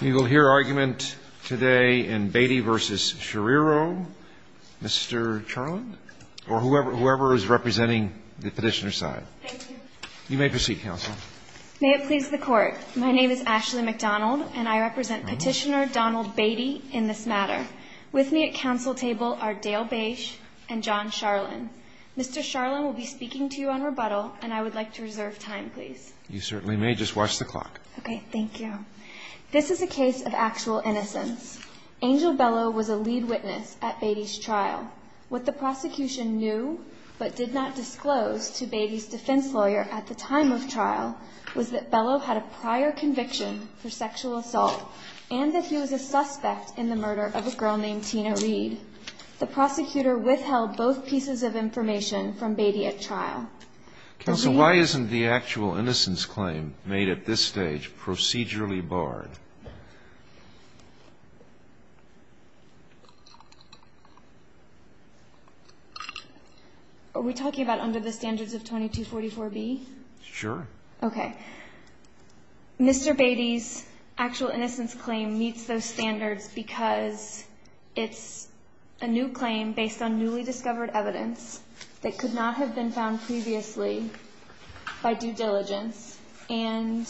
You will hear argument today in Beaty v. Schriro, Mr. Charlin, or whoever is representing the Petitioner's side. Thank you. You may proceed, Counsel. May it please the Court. My name is Ashley McDonald, and I represent Petitioner Donald Beaty in this matter. With me at counsel table are Dale Bache and John Charlin. Mr. Charlin will be speaking to you on rebuttal, and I would like to reserve time, please. You certainly may. Just watch the clock. Okay. Thank you. This is a case of actual innocence. Angel Bellow was a lead witness at Beaty's trial. What the prosecution knew but did not disclose to Beaty's defense lawyer at the time of trial was that Bellow had a prior conviction for sexual assault and that he was a suspect in the murder of a girl named Tina Reed. The prosecutor withheld both pieces of information from Beaty at trial. Counsel, why isn't the actual innocence claim made at this stage procedurally barred? Are we talking about under the standards of 2244B? Sure. Okay. Mr. Beaty's actual innocence claim meets those standards because it's a new claim based on newly discovered evidence that could not have been found previously by due diligence, and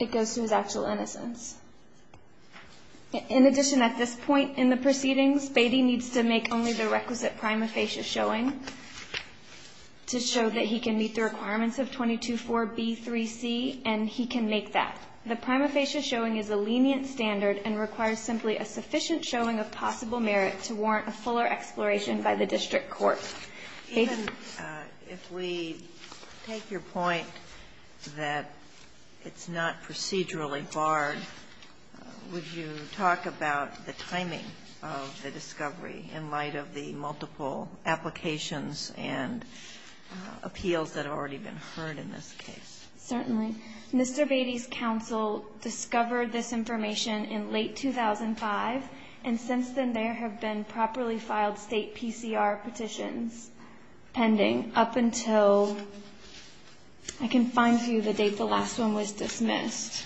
it goes to his actual innocence. In addition, at this point in the proceedings, Beaty needs to make only the requisite prima facie showing to show that he can meet the requirements of 224B3C, and he can make that. The prima facie showing is a lenient standard and requires simply a sufficient showing of possible merit to warrant a fuller exploration by the district court. Even if we take your point that it's not procedurally barred, would you talk about the timing of the discovery in light of the multiple applications and appeals that have already been heard in this case? Certainly. In addition, Mr. Beaty's counsel discovered this information in late 2005, and since then there have been properly filed state PCR petitions pending up until I can find for you the date the last one was dismissed.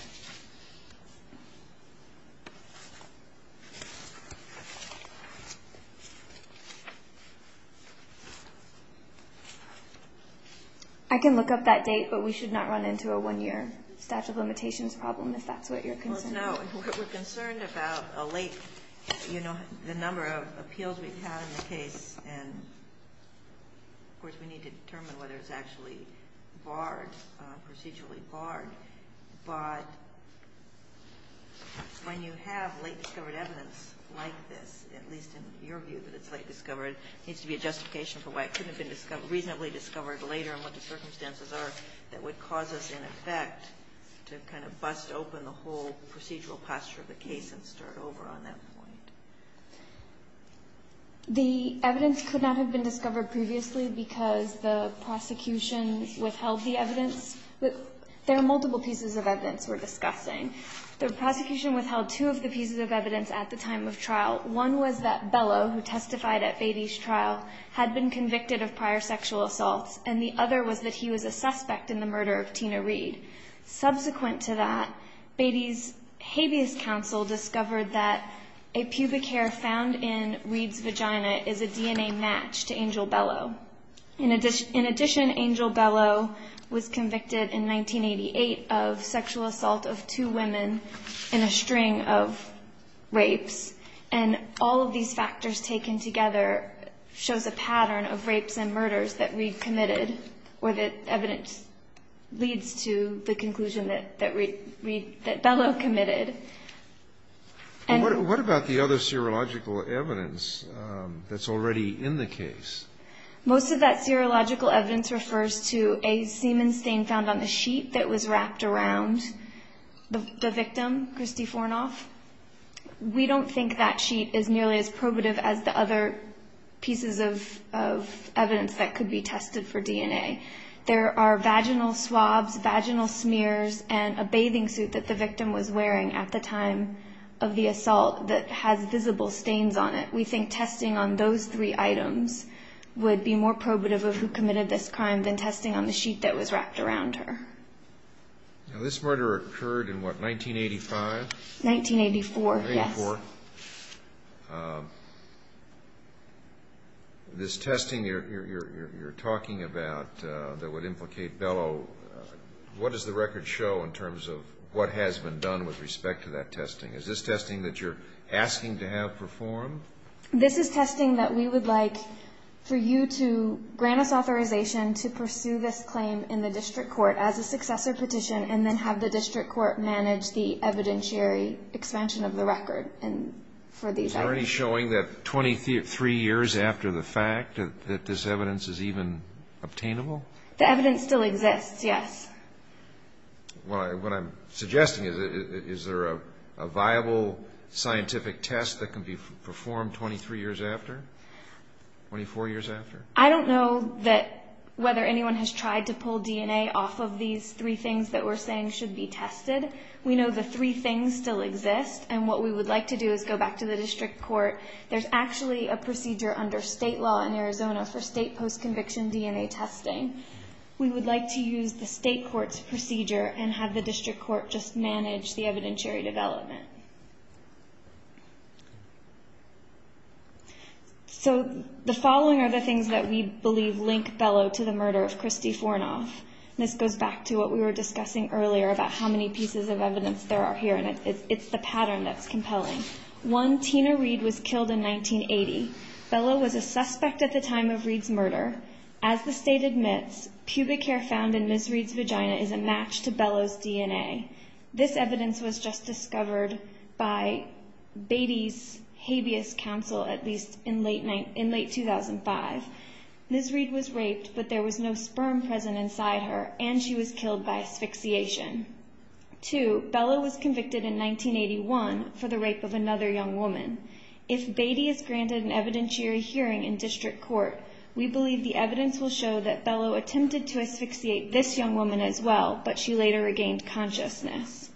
I can look up that date, but we should not run into a one-year statute of limitations problem if that's what you're concerned about. No. We're concerned about a late, you know, the number of appeals we've had in the case, and of course we need to determine whether it's actually barred, procedurally barred. But when you have late discovered evidence like this, at least in your view that it's late discovered, there needs to be a justification for why it couldn't have been reasonably discovered later and what the circumstances are that would cause us, in effect, to kind of bust open the whole procedural posture of the case and start over on that point. The evidence could not have been discovered previously because the prosecution withheld the evidence. There are multiple pieces of evidence we're discussing. The prosecution withheld two of the pieces of evidence at the time of trial. One was that Bellow, who testified at Beatty's trial, had been convicted of prior sexual assaults, and the other was that he was a suspect in the murder of Tina Reid. Subsequent to that, Beatty's habeas counsel discovered that a pubic hair found in Reid's vagina is a DNA match to Angel Bellow. In addition, Angel Bellow was convicted in 1988 of sexual assault of two women in a string of rapes. And all of these factors taken together shows a pattern of rapes and murders that Reid committed, or that evidence leads to the conclusion that Reid, that Bellow committed. And what about the other serological evidence that's already in the case? Most of that serological evidence refers to a semen stain found on the sheet that was wrapped around the victim, Kristi Fornoff. We don't think that sheet is nearly as probative as the other pieces of evidence that could be tested for DNA. There are vaginal swabs, vaginal smears, and a bathing suit that the victim was wearing at the time of the assault that has visible stains on it. We think testing on those three items would be more probative of who committed this crime than testing on the sheet that was wrapped around her. Now, this murder occurred in what, 1985? 1984, yes. 1984. This testing you're talking about that would implicate Bellow, what does the record asking to have performed? This is testing that we would like for you to grant us authorization to pursue this claim in the district court as a successor petition and then have the district court manage the evidentiary expansion of the record for these items. Is there any showing that 23 years after the fact that this evidence is even obtainable? The evidence still exists, yes. What I'm suggesting is, is there a viable scientific test that can be performed 23 years after, 24 years after? I don't know that whether anyone has tried to pull DNA off of these three things that we're saying should be tested. We know the three things still exist, and what we would like to do is go back to the district court. There's actually a procedure under state law in Arizona for state post-conviction DNA testing. We would like to use the state court's procedure and have the district court just manage the evidentiary development. The following are the things that we believe link Bellow to the murder of Kristi Fornoff. This goes back to what we were discussing earlier about how many pieces of evidence there are here, and it's the pattern that's compelling. One, Tina Reed was killed in 1980. Bellow was a suspect at the time of Reed's murder. As the state admits, pubic hair found in Ms. Reed's vagina is a match to Bellow's DNA. This evidence was just discovered by Beatty's habeas council, at least in late 2005. Ms. Reed was raped, but there was no sperm present inside her, and she was killed by asphyxiation. Two, Bellow was convicted in 1981 for the rape of another young woman. If Beatty is granted an evidentiary hearing in district court, we believe the evidence will show that Bellow attempted to asphyxiate this young woman as well, but she later regained consciousness.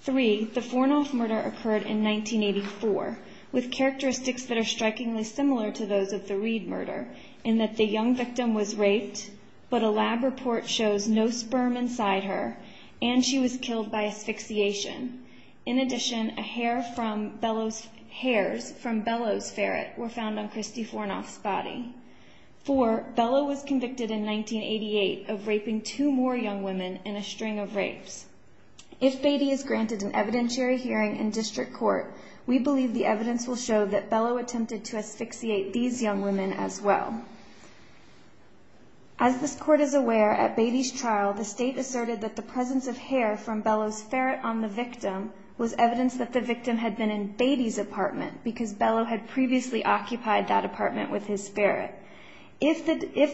Three, the Fornoff murder occurred in 1984, with characteristics that are strikingly similar to those of the Reed murder, in that the young victim was raped, but a lab report shows no sperm inside her, and she was killed by asphyxiation. In addition, hairs from Bellow's ferret were found on Kristi Fornoff's body. Four, Bellow was convicted in 1988 of raping two more young women in a string of rapes. If Beatty is granted an evidentiary hearing in district court, we believe the evidence will show that Bellow attempted to asphyxiate these young women as well. As this court is aware, at Beatty's trial, the state asserted that the presence of hair from Bellow's ferret on the victim was evidence that the victim had been in Beatty's apartment, because Bellow had previously occupied that apartment with his spirit. If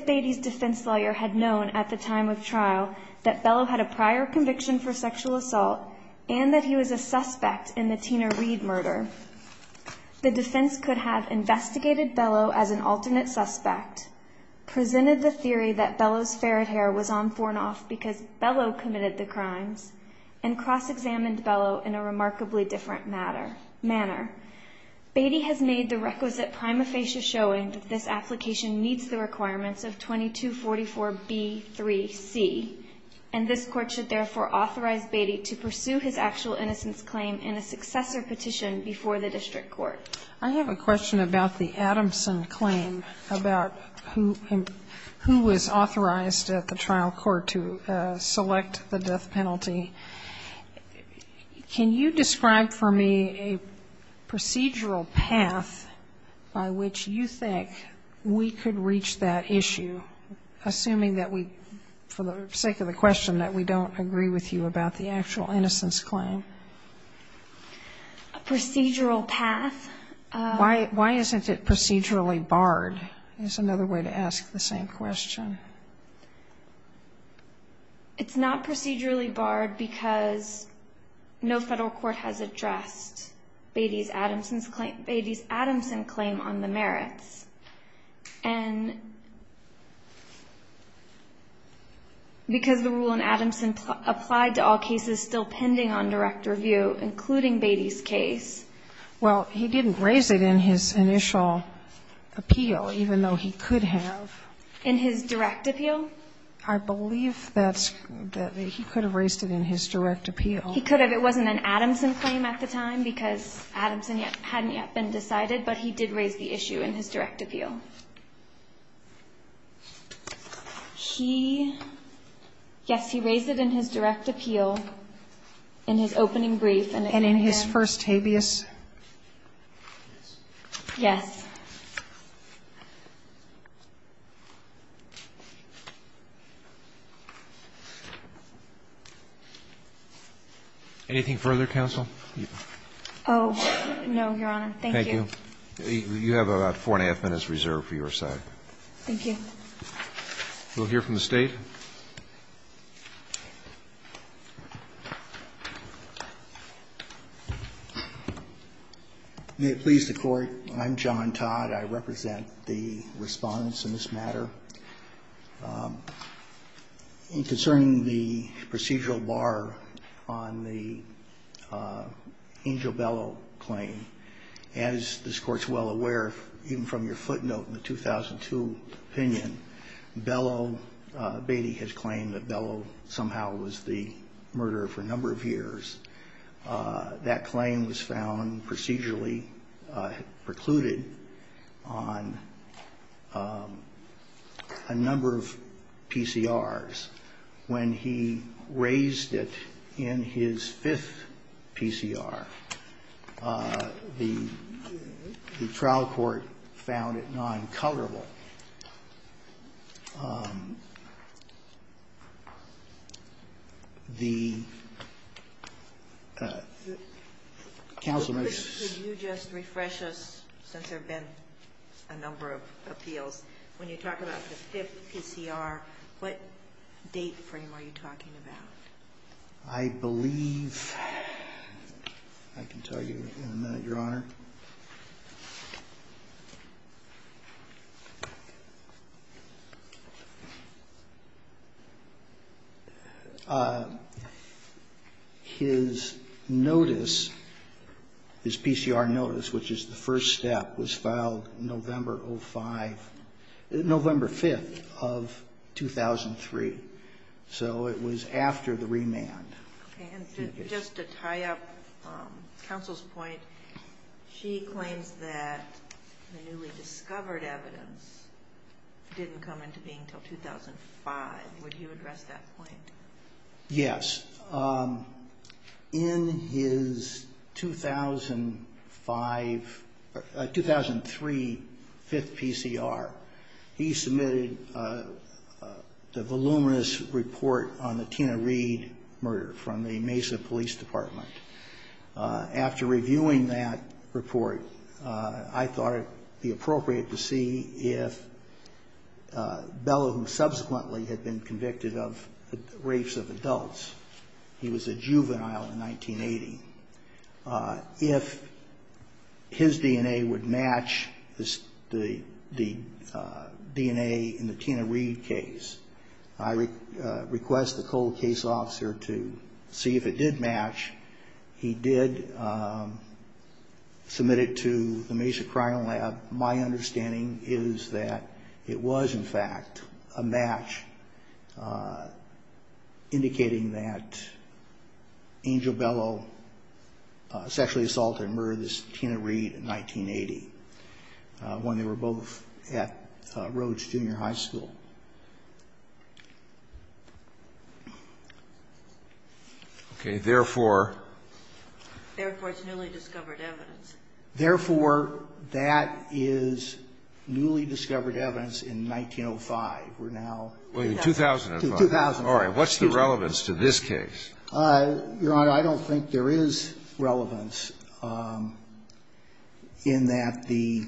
Beatty's defense lawyer had known at the time of trial that Bellow had a prior conviction for sexual assault, and that he was a suspect in the Tina Reed murder, the defense could have investigated Bellow as an alternate suspect, presented the theory that Bellow's ferret hair was on Fornoff because Bellow committed the crimes, and cross-examined Bellow in a remarkably different manner. Beatty has made the requisite prima facie showing that this application meets the requirements of 2244B3C, and this court should therefore authorize Beatty to pursue his actual innocence claim in a successor petition before the district court. I have a question about the Adamson claim, about who was authorized at the trial court to select the death penalty. Can you describe for me a procedural path by which you think we could reach that issue, assuming that we, for the sake of the question, that we don't agree with you about the actual innocence claim? A procedural path? Why isn't it procedurally barred is another way to ask the same question. It's not procedurally barred because no Federal court has addressed Beatty's Adamson's claim, Beatty's Adamson claim on the merits. And because the rule in Adamson applied to all cases still pending on direct review, including Beatty's case. Well, he didn't raise it in his initial appeal, even though he could have. In his direct appeal? I believe that he could have raised it in his direct appeal. He could have. It wasn't an Adamson claim at the time because Adamson hadn't yet been decided, but he did raise the issue in his direct appeal. He, yes, he raised it in his direct appeal in his opening brief. And in his first habeas? Yes. Anything further, counsel? Oh, no, Your Honor. Thank you. Thank you. You have about four and a half minutes reserved for your side. Thank you. We'll hear from the State. Thank you. May it please the Court. I'm John Todd. I represent the Respondents in this matter. Concerning the procedural bar on the Angel Bellow claim, as this Court's well aware, even from your footnote in the 2002 opinion, Bellow, Beatty has claimed that Bellow somehow was the murderer for a number of years. That claim was found procedurally precluded on a number of PCRs. When he raised it in his fifth PCR, the trial court found it non-colorable. The counsel may just ---- Could you just refresh us, since there have been a number of appeals? When you talk about the fifth PCR, what date frame are you talking about? I believe ---- I can tell you in a minute, Your Honor. His notice, his PCR notice, which is the first step, was filed November 05, 2002. November 5 of 2003. So it was after the remand. Just to tie up counsel's point, she claims that the newly discovered evidence didn't come into being until 2005. Would you address that point? Yes. In his 2003 fifth PCR, he submitted the voluminous report on the Tina Reid murder from the Mesa Police Department. After reviewing that report, I thought it would be appropriate to see if Bellow, who subsequently had been convicted of rapes of adults, he was a juvenile in 1980, if his DNA would match the DNA in the Tina Reid case. I request the cold case officer to see if it did match. He did submit it to the Mesa Crime Lab. My understanding is that it was, in fact, a match indicating that Angel Bellow sexually assaulted and murdered Tina Reid in 1980, when they were both at Rhodes Junior High School. Okay. Therefore? Therefore, it's newly discovered evidence. Therefore, that is newly discovered evidence in 1905. We're now in 2000. 2000. What's the relevance to this case? Your Honor, I don't think there is relevance in that the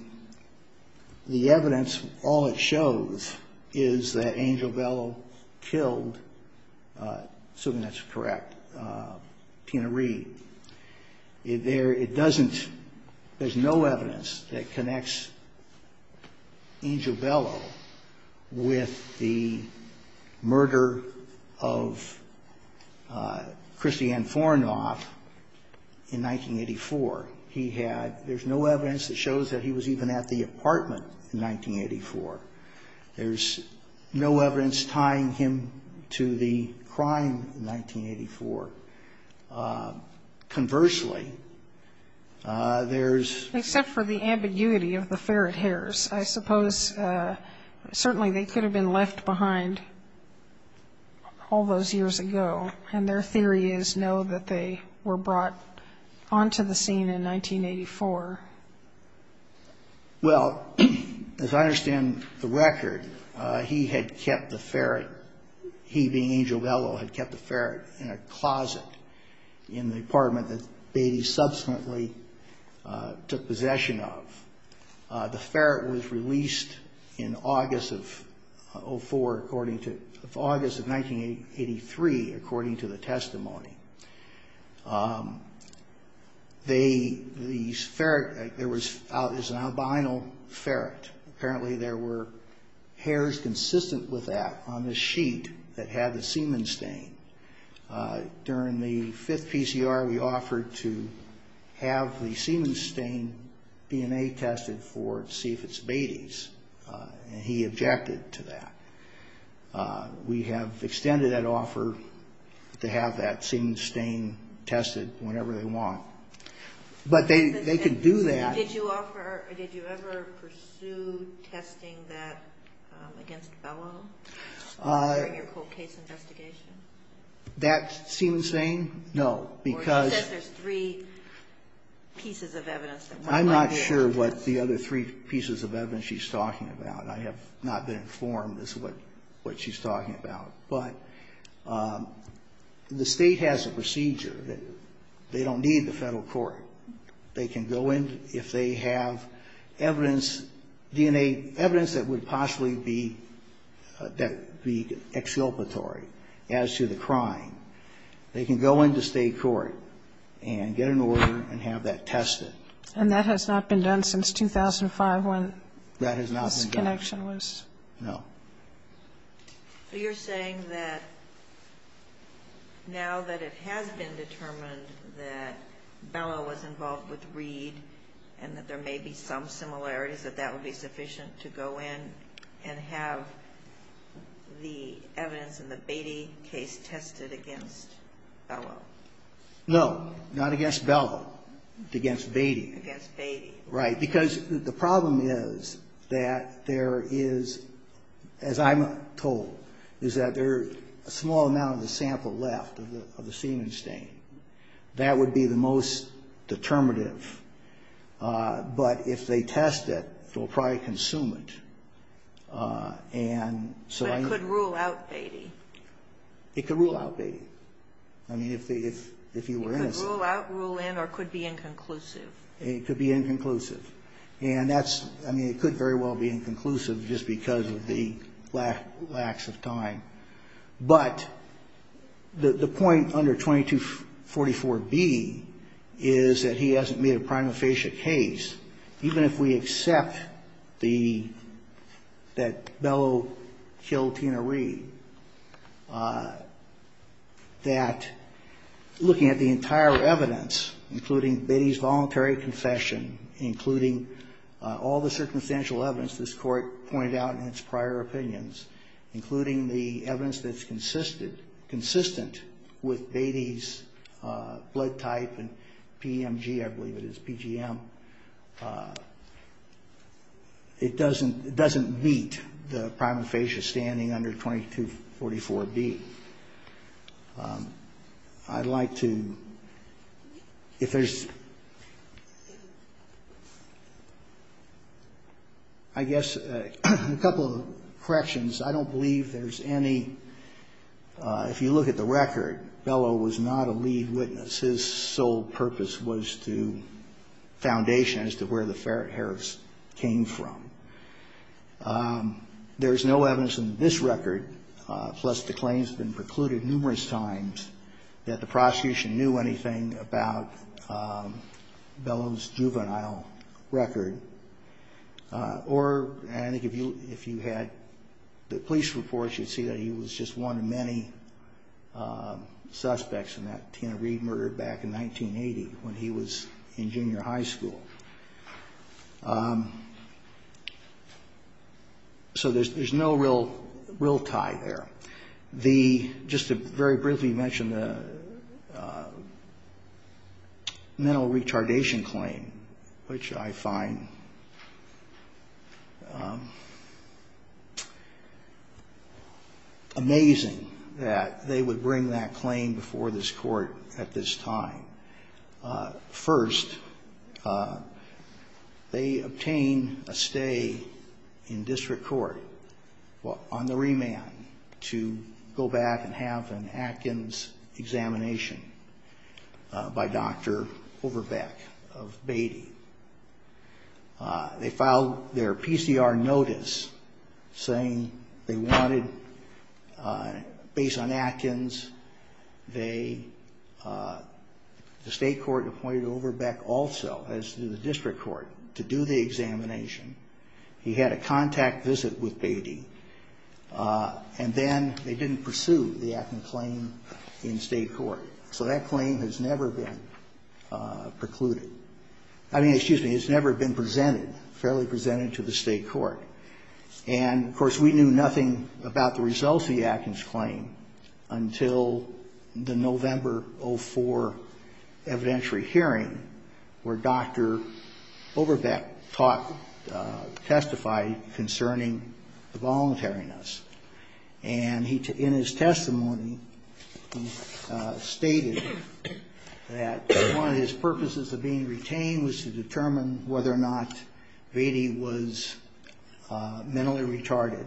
evidence, all it shows is that Angel Bellow killed, assuming that's correct, Tina Reid. There, it doesn't, there's no evidence that connects Angel Bellow with the murder of Christiane Fornoff in 1984. He had, there's no evidence that shows that he was even at the apartment in 1984. There's no evidence tying him to the crime in 1984. Conversely, there's Except for the ambiguity of the ferret hairs, I suppose certainly they could have been left behind all those years ago, and their theory is, no, that they were brought onto the scene in 1984. Well, as I understand the record, he had kept the ferret, he being Angel Bellow had kept the ferret in a closet in the apartment that Beatty subsequently took possession of. The ferret was released in August of 04, according to, August of 1983, according to the testimony. The ferret, there was an albino ferret. Apparently there were hairs consistent with that on the sheet that had the semen stain. During the fifth PCR, we offered to have the semen stain DNA tested for to see if it's Beatty's, and he objected to that. We have extended that offer to have that semen stain tested whenever they want. But they could do that. Did you offer, did you ever pursue testing that against Bellow during your cold case investigation? That semen stain? No, because Or you said there's three pieces of evidence. I'm not sure what the other three pieces of evidence she's talking about. I have not been informed as to what she's talking about. But the State has a procedure. They don't need the Federal court. They can go in if they have evidence, DNA, evidence that would possibly be, that would be exculpatory as to the crime. They can go into State court and get an order and have that tested. And that has not been done since 2005 when? That has not been done. No. You're saying that now that it has been determined that Bellow was involved with Reed and that there may be some similarities, that that would be sufficient to go in and have the evidence in the Beatty case tested against Bellow? No, not against Bellow, against Beatty. Against Beatty. Right. Because the problem is that there is, as I'm told, is that there's a small amount of the sample left of the semen stain. That would be the most determinative. But if they test it, they'll probably consume it. And so I need to But it could rule out Beatty. It could rule out Beatty. I mean, if you were innocent. It could rule out, rule in, or it could be inconclusive. It could be inconclusive. And that's, I mean, it could very well be inconclusive just because of the lax of time. But the point under 2244B is that he hasn't made a prima facie case. Even if we accept the, that Bellow killed Tina Reed, that looking at the entire evidence, including Beatty's voluntary confession, including all the circumstantial evidence this Court pointed out in its prior opinions, including the evidence that's consistent, consistent with Beatty's blood type and PEMG, I believe it is, PGM, it doesn't meet the prima facie standing under 2244B. I'd like to, if there's, I guess, a couple of corrections. I don't believe there's any, if you look at the record, Bellow was not a lead witness. His sole purpose was to, foundation as to where the Harris came from. There's no evidence in this record, plus the claims have been precluded numerous times, that the prosecution knew anything about Bellow's juvenile record. Or, and I think if you had the police reports, you'd see that he was just one of many suspects in that Tina Reed murder back in 1980, when he was in junior high school. So there's no real tie there. The, just to very briefly mention the mental retardation claim, which I find amazing that they would bring that claim before this Court at this time. First, they obtain a stay in district court, on the remand, to determine whether or not Bellow's juvenile record is valid. And then they go back and have an Atkins examination by Dr. Overbeck of Beatty. They filed their PCR notice, saying they wanted, based on Atkins, they, the state court appointed Overbeck also, as did the district court, to do the examination. He had a contact visit with Beatty, and then they didn't pursue the Atkins claim in state court. So that claim has never been precluded. I mean, excuse me, it's never been presented, fairly presented to the state court. And, of course, we knew nothing about the results of the Atkins claim until the November 04 evidentiary hearing, where Dr. Overbeck taught, testified concerning the voluntariness. And he, in his testimony, he stated that one of his purposes of being retained was to determine whether or not Beatty was mentally retarded.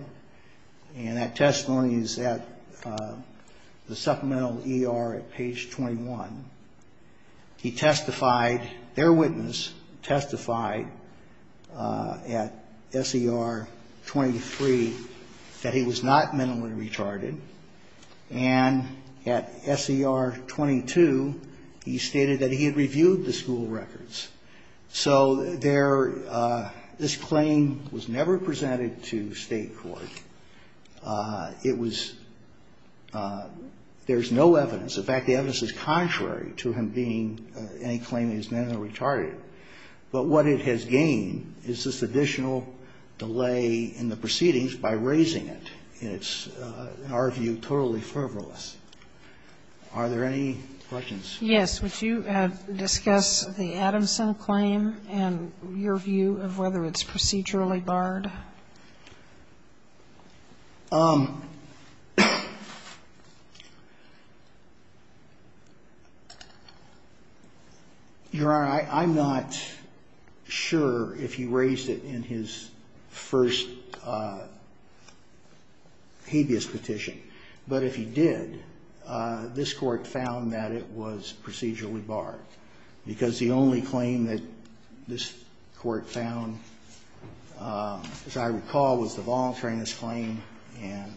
And that testimony is at the supplemental ER at page 21. He testified, their witness testified at S.E.R. 23 that he was not mentally retarded. And at S.E.R. 22, he stated that he had reviewed the school records. So there, this claim was never presented to state court. It was, there's no evidence, in fact, the evidence is contrary to him being, any claim that he's mentally retarded. But what it has gained is this additional delay in the proceedings by raising it. And it's, in our view, totally fervorless. Are there any questions? Yes. Would you discuss the Adamson claim and your view of whether it's procedurally barred? Your Honor, I'm not sure if he raised it in his first habeas petition, but if he did, this Court found that it was procedurally barred. Because the only claim that this Court found, as I recall, was the voluntariness claim and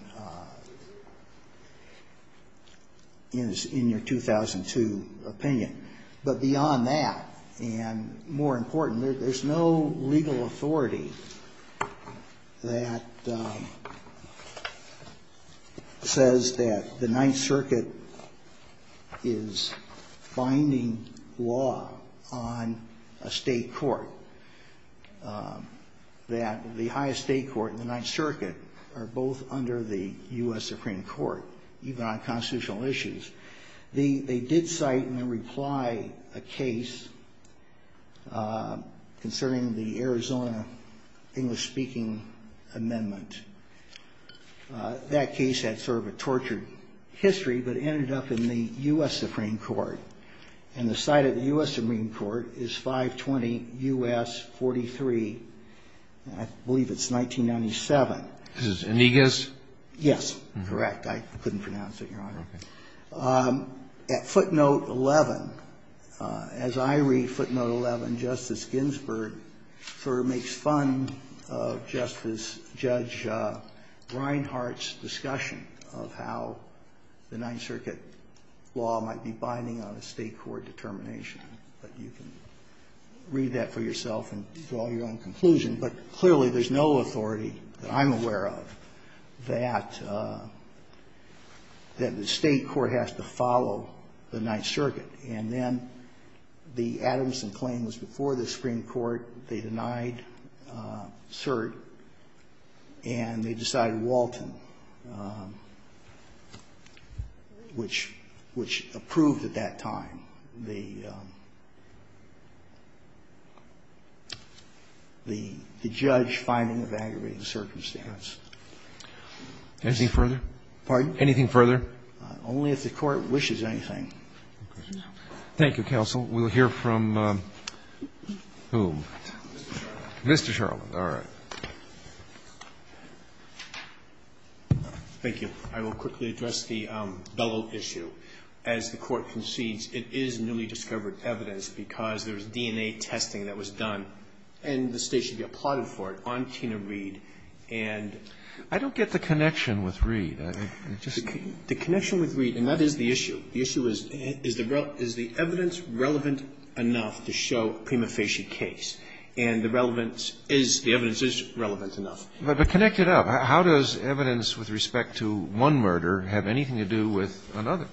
is in your 2002 opinion. But beyond that, and more important, there's no legal authority that says that the Ninth Circuit is binding law on a state court, that the highest state court and the Ninth Circuit are both under the U.S. Supreme Court, even on constitutional issues. They did cite and then reply a case concerning the Arizona English-speaking amendment. That case had sort of a tortured history. But it ended up in the U.S. Supreme Court. And the site of the U.S. Supreme Court is 520 U.S. 43. I believe it's 1997. This is Indiguez? Yes. Correct. I couldn't pronounce it, Your Honor. Okay. At footnote 11, as I read footnote 11, Justice Ginsburg sort of makes fun of Justice Brinehart's discussion of how the Ninth Circuit law might be binding on a state court determination. But you can read that for yourself and draw your own conclusion. But clearly, there's no authority that I'm aware of that the state court has to follow the Ninth Circuit. And then the Adamson claim was before the Supreme Court. They denied cert. And they decided Walton, which approved at that time the judge finding of aggravating circumstance. Anything further? Pardon? Anything further? Only if the Court wishes anything. Okay. Thank you, counsel. We'll hear from whom? Mr. Charland. Mr. Charland. All right. Thank you. I will quickly address the Bellow issue. As the Court concedes, it is newly discovered evidence because there's DNA testing that was done, and the State should be applauded for it, on Tina Reed. And I don't get the connection with Reed. The connection with Reed, and that is the issue. The issue is, is the evidence relevant enough to show a prima facie case? And the relevance is, the evidence is relevant enough. But connect it up. How does evidence with respect to one murder have anything to do with another?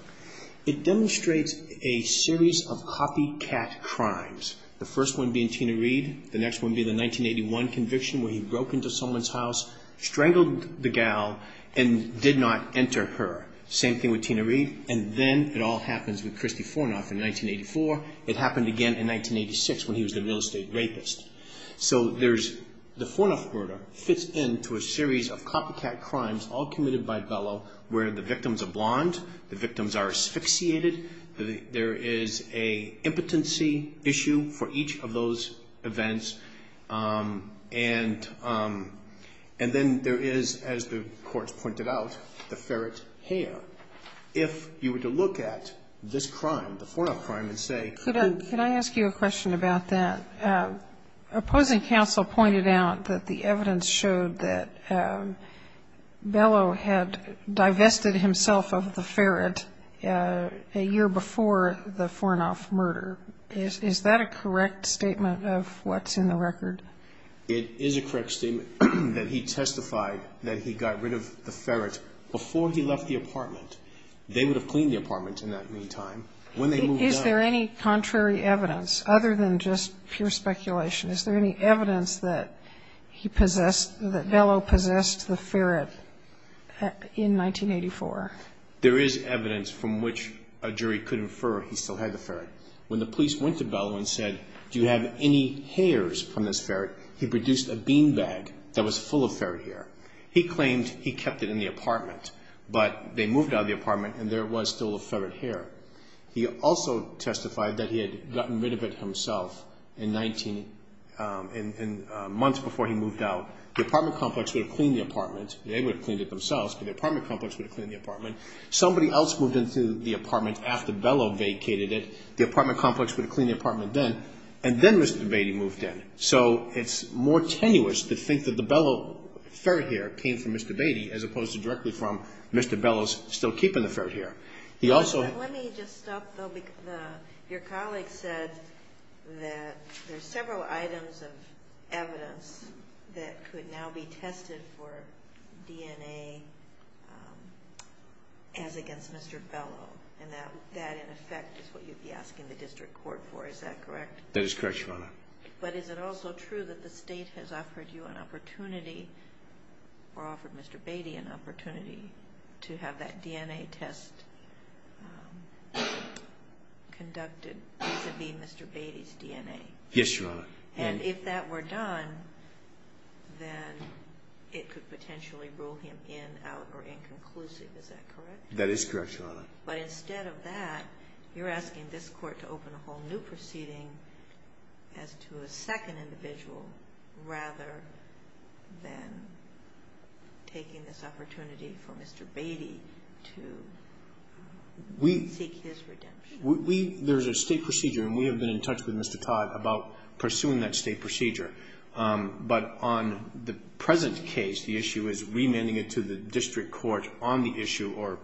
It demonstrates a series of copycat crimes, the first one being Tina Reed, the next one being the 1981 conviction where he broke into someone's house, strangled the gal and did not enter her. Same thing with Tina Reed. And then it all happens with Christy Fornoff in 1984. It happened again in 1986 when he was a real estate rapist. So the Fornoff murder fits into a series of copycat crimes all committed by Bellow where the victims are blonde, the victims are asphyxiated. There is an impotency issue for each of those events. And then there is, as the courts pointed out, the ferret hair. If you were to look at this crime, the Fornoff crime, and say. Can I ask you a question about that? Opposing counsel pointed out that the evidence showed that Bellow had divested himself of the ferret a year before the Fornoff murder. Is that a correct statement of what's in the record? It is a correct statement that he testified that he got rid of the ferret before he left the apartment. They would have cleaned the apartment in that meantime. Is there any contrary evidence other than just pure speculation? Is there any evidence that he possessed, that Bellow possessed the ferret in 1984? There is evidence from which a jury could infer he still had the ferret. When the police went to Bellow and said, do you have any hairs from this ferret, he produced a bean bag that was full of ferret hair. He claimed he kept it in the apartment, but they moved out of the apartment and there was still a ferret hair. He also testified that he had gotten rid of it himself in months before he moved out. The apartment complex would have cleaned the apartment. They would have cleaned it themselves, but the apartment complex would have cleaned the apartment. Somebody else moved into the apartment after Bellow vacated it. The apartment complex would have cleaned the apartment then, and then Mr. Beatty moved in. So it's more tenuous to think that the Bellow ferret hair came from Mr. Beatty as opposed to directly from Mr. Bellow's still keeping the ferret hair. Let me just stop, though. Your colleague said that there's several items of evidence that could now be tested for DNA as against Mr. Bellow, and that, in effect, is what you'd be asking the district court for. Is that correct? That is correct, Your Honor. But is it also true that the State has offered you an opportunity, or offered Mr. Beatty an opportunity, to have that DNA test conducted vis-à-vis Mr. Beatty's DNA? Yes, Your Honor. And if that were done, then it could potentially rule him in, out, or inconclusive. Is that correct? That is correct, Your Honor. But instead of that, you're asking this Court to open a whole new proceeding as to a second individual rather than taking this opportunity for Mr. Beatty to seek his redemption. There's a State procedure, and we have been in touch with Mr. Todd about pursuing that State procedure. But on the present case, the issue is remanding it to the district court on the issue or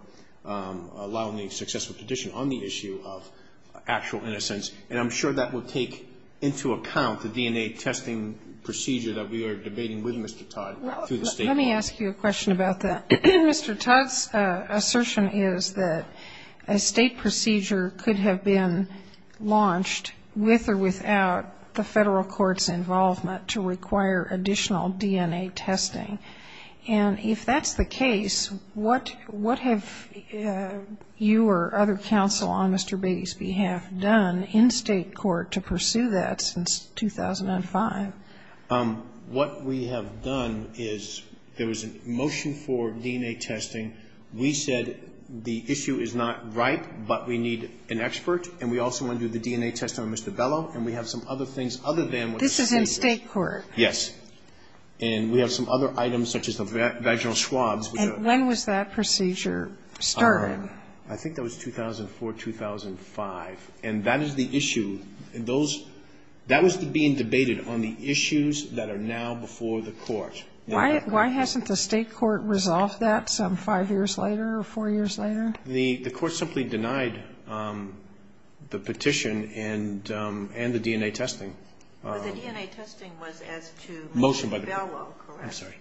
allowing the successful petition on the issue of actual innocence. And I'm sure that will take into account the DNA testing procedure that we are debating with Mr. Todd through the State court. Let me ask you a question about that. Mr. Todd's assertion is that a State procedure could have been launched with or without the Federal court's involvement to require additional DNA testing. And if that's the case, what have you or other counsel on Mr. Beatty's behalf done in State court to pursue that since 2005? What we have done is there was a motion for DNA testing. We said the issue is not ripe, but we need an expert. And we also want to do the DNA testing on Mr. Bellow. And we have some other things other than what the State does. This is in State court. Yes. And we have some other items such as the vaginal swabs. And when was that procedure started? I think that was 2004, 2005. And that is the issue. And those, that was being debated on the issues that are now before the court. Why hasn't the State court resolved that some five years later or four years later? The court simply denied the petition and the DNA testing. But the DNA testing was as to Mr. Bellow, correct? I'm sorry.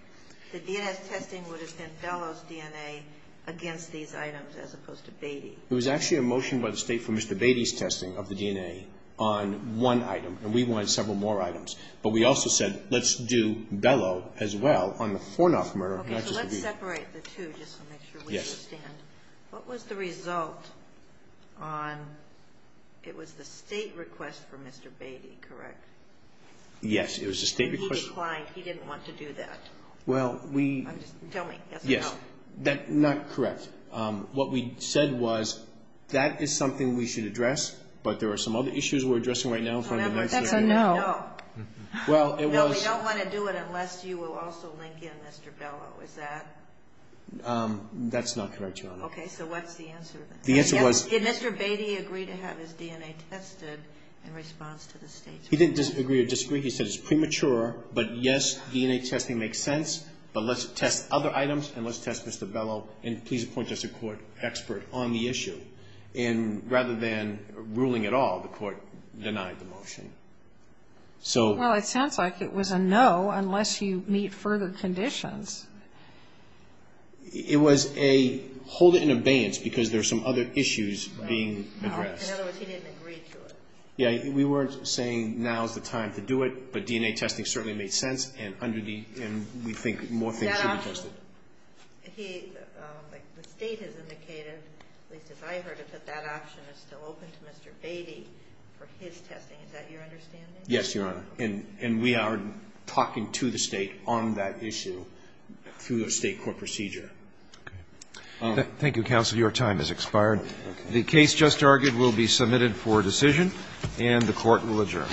The DNA testing would have been Bellow's DNA against these items as opposed to Beatty. It was actually a motion by the State for Mr. Beatty's testing of the DNA on one item. And we wanted several more items. But we also said let's do Bellow as well on the Fornoff murder. Okay. So let's separate the two just to make sure we understand. Yes. What was the result on, it was the State request for Mr. Beatty, correct? Yes. It was the State request. And he declined. He didn't want to do that. Well, we. Tell me. Yes. Not correct. What we said was that is something we should address. But there are some other issues we're addressing right now. Remember, that's a no. No. Well, it was. No, we don't want to do it unless you will also link in Mr. Bellow. Is that? That's not correct, Your Honor. Okay. So what's the answer? The answer was. Did Mr. Beatty agree to have his DNA tested in response to the State's request? He didn't agree or disagree. He said it's premature. But, yes, DNA testing makes sense. But let's test other items and let's test Mr. Bellow. And please appoint us a court expert on the issue. And rather than ruling at all, the court denied the motion. Well, it sounds like it was a no unless you meet further conditions. It was a hold it in abeyance because there are some other issues being addressed. In other words, he didn't agree to it. Yes. We weren't saying now is the time to do it. And we think more things should be tested. The State has indicated, at least as I heard it, that that option is still open to Mr. Beatty for his testing. Is that your understanding? Yes, Your Honor. And we are talking to the State on that issue through a State court procedure. Okay. Thank you, counsel. Your time has expired. Okay. The case just argued will be submitted for decision, and the Court will adjourn.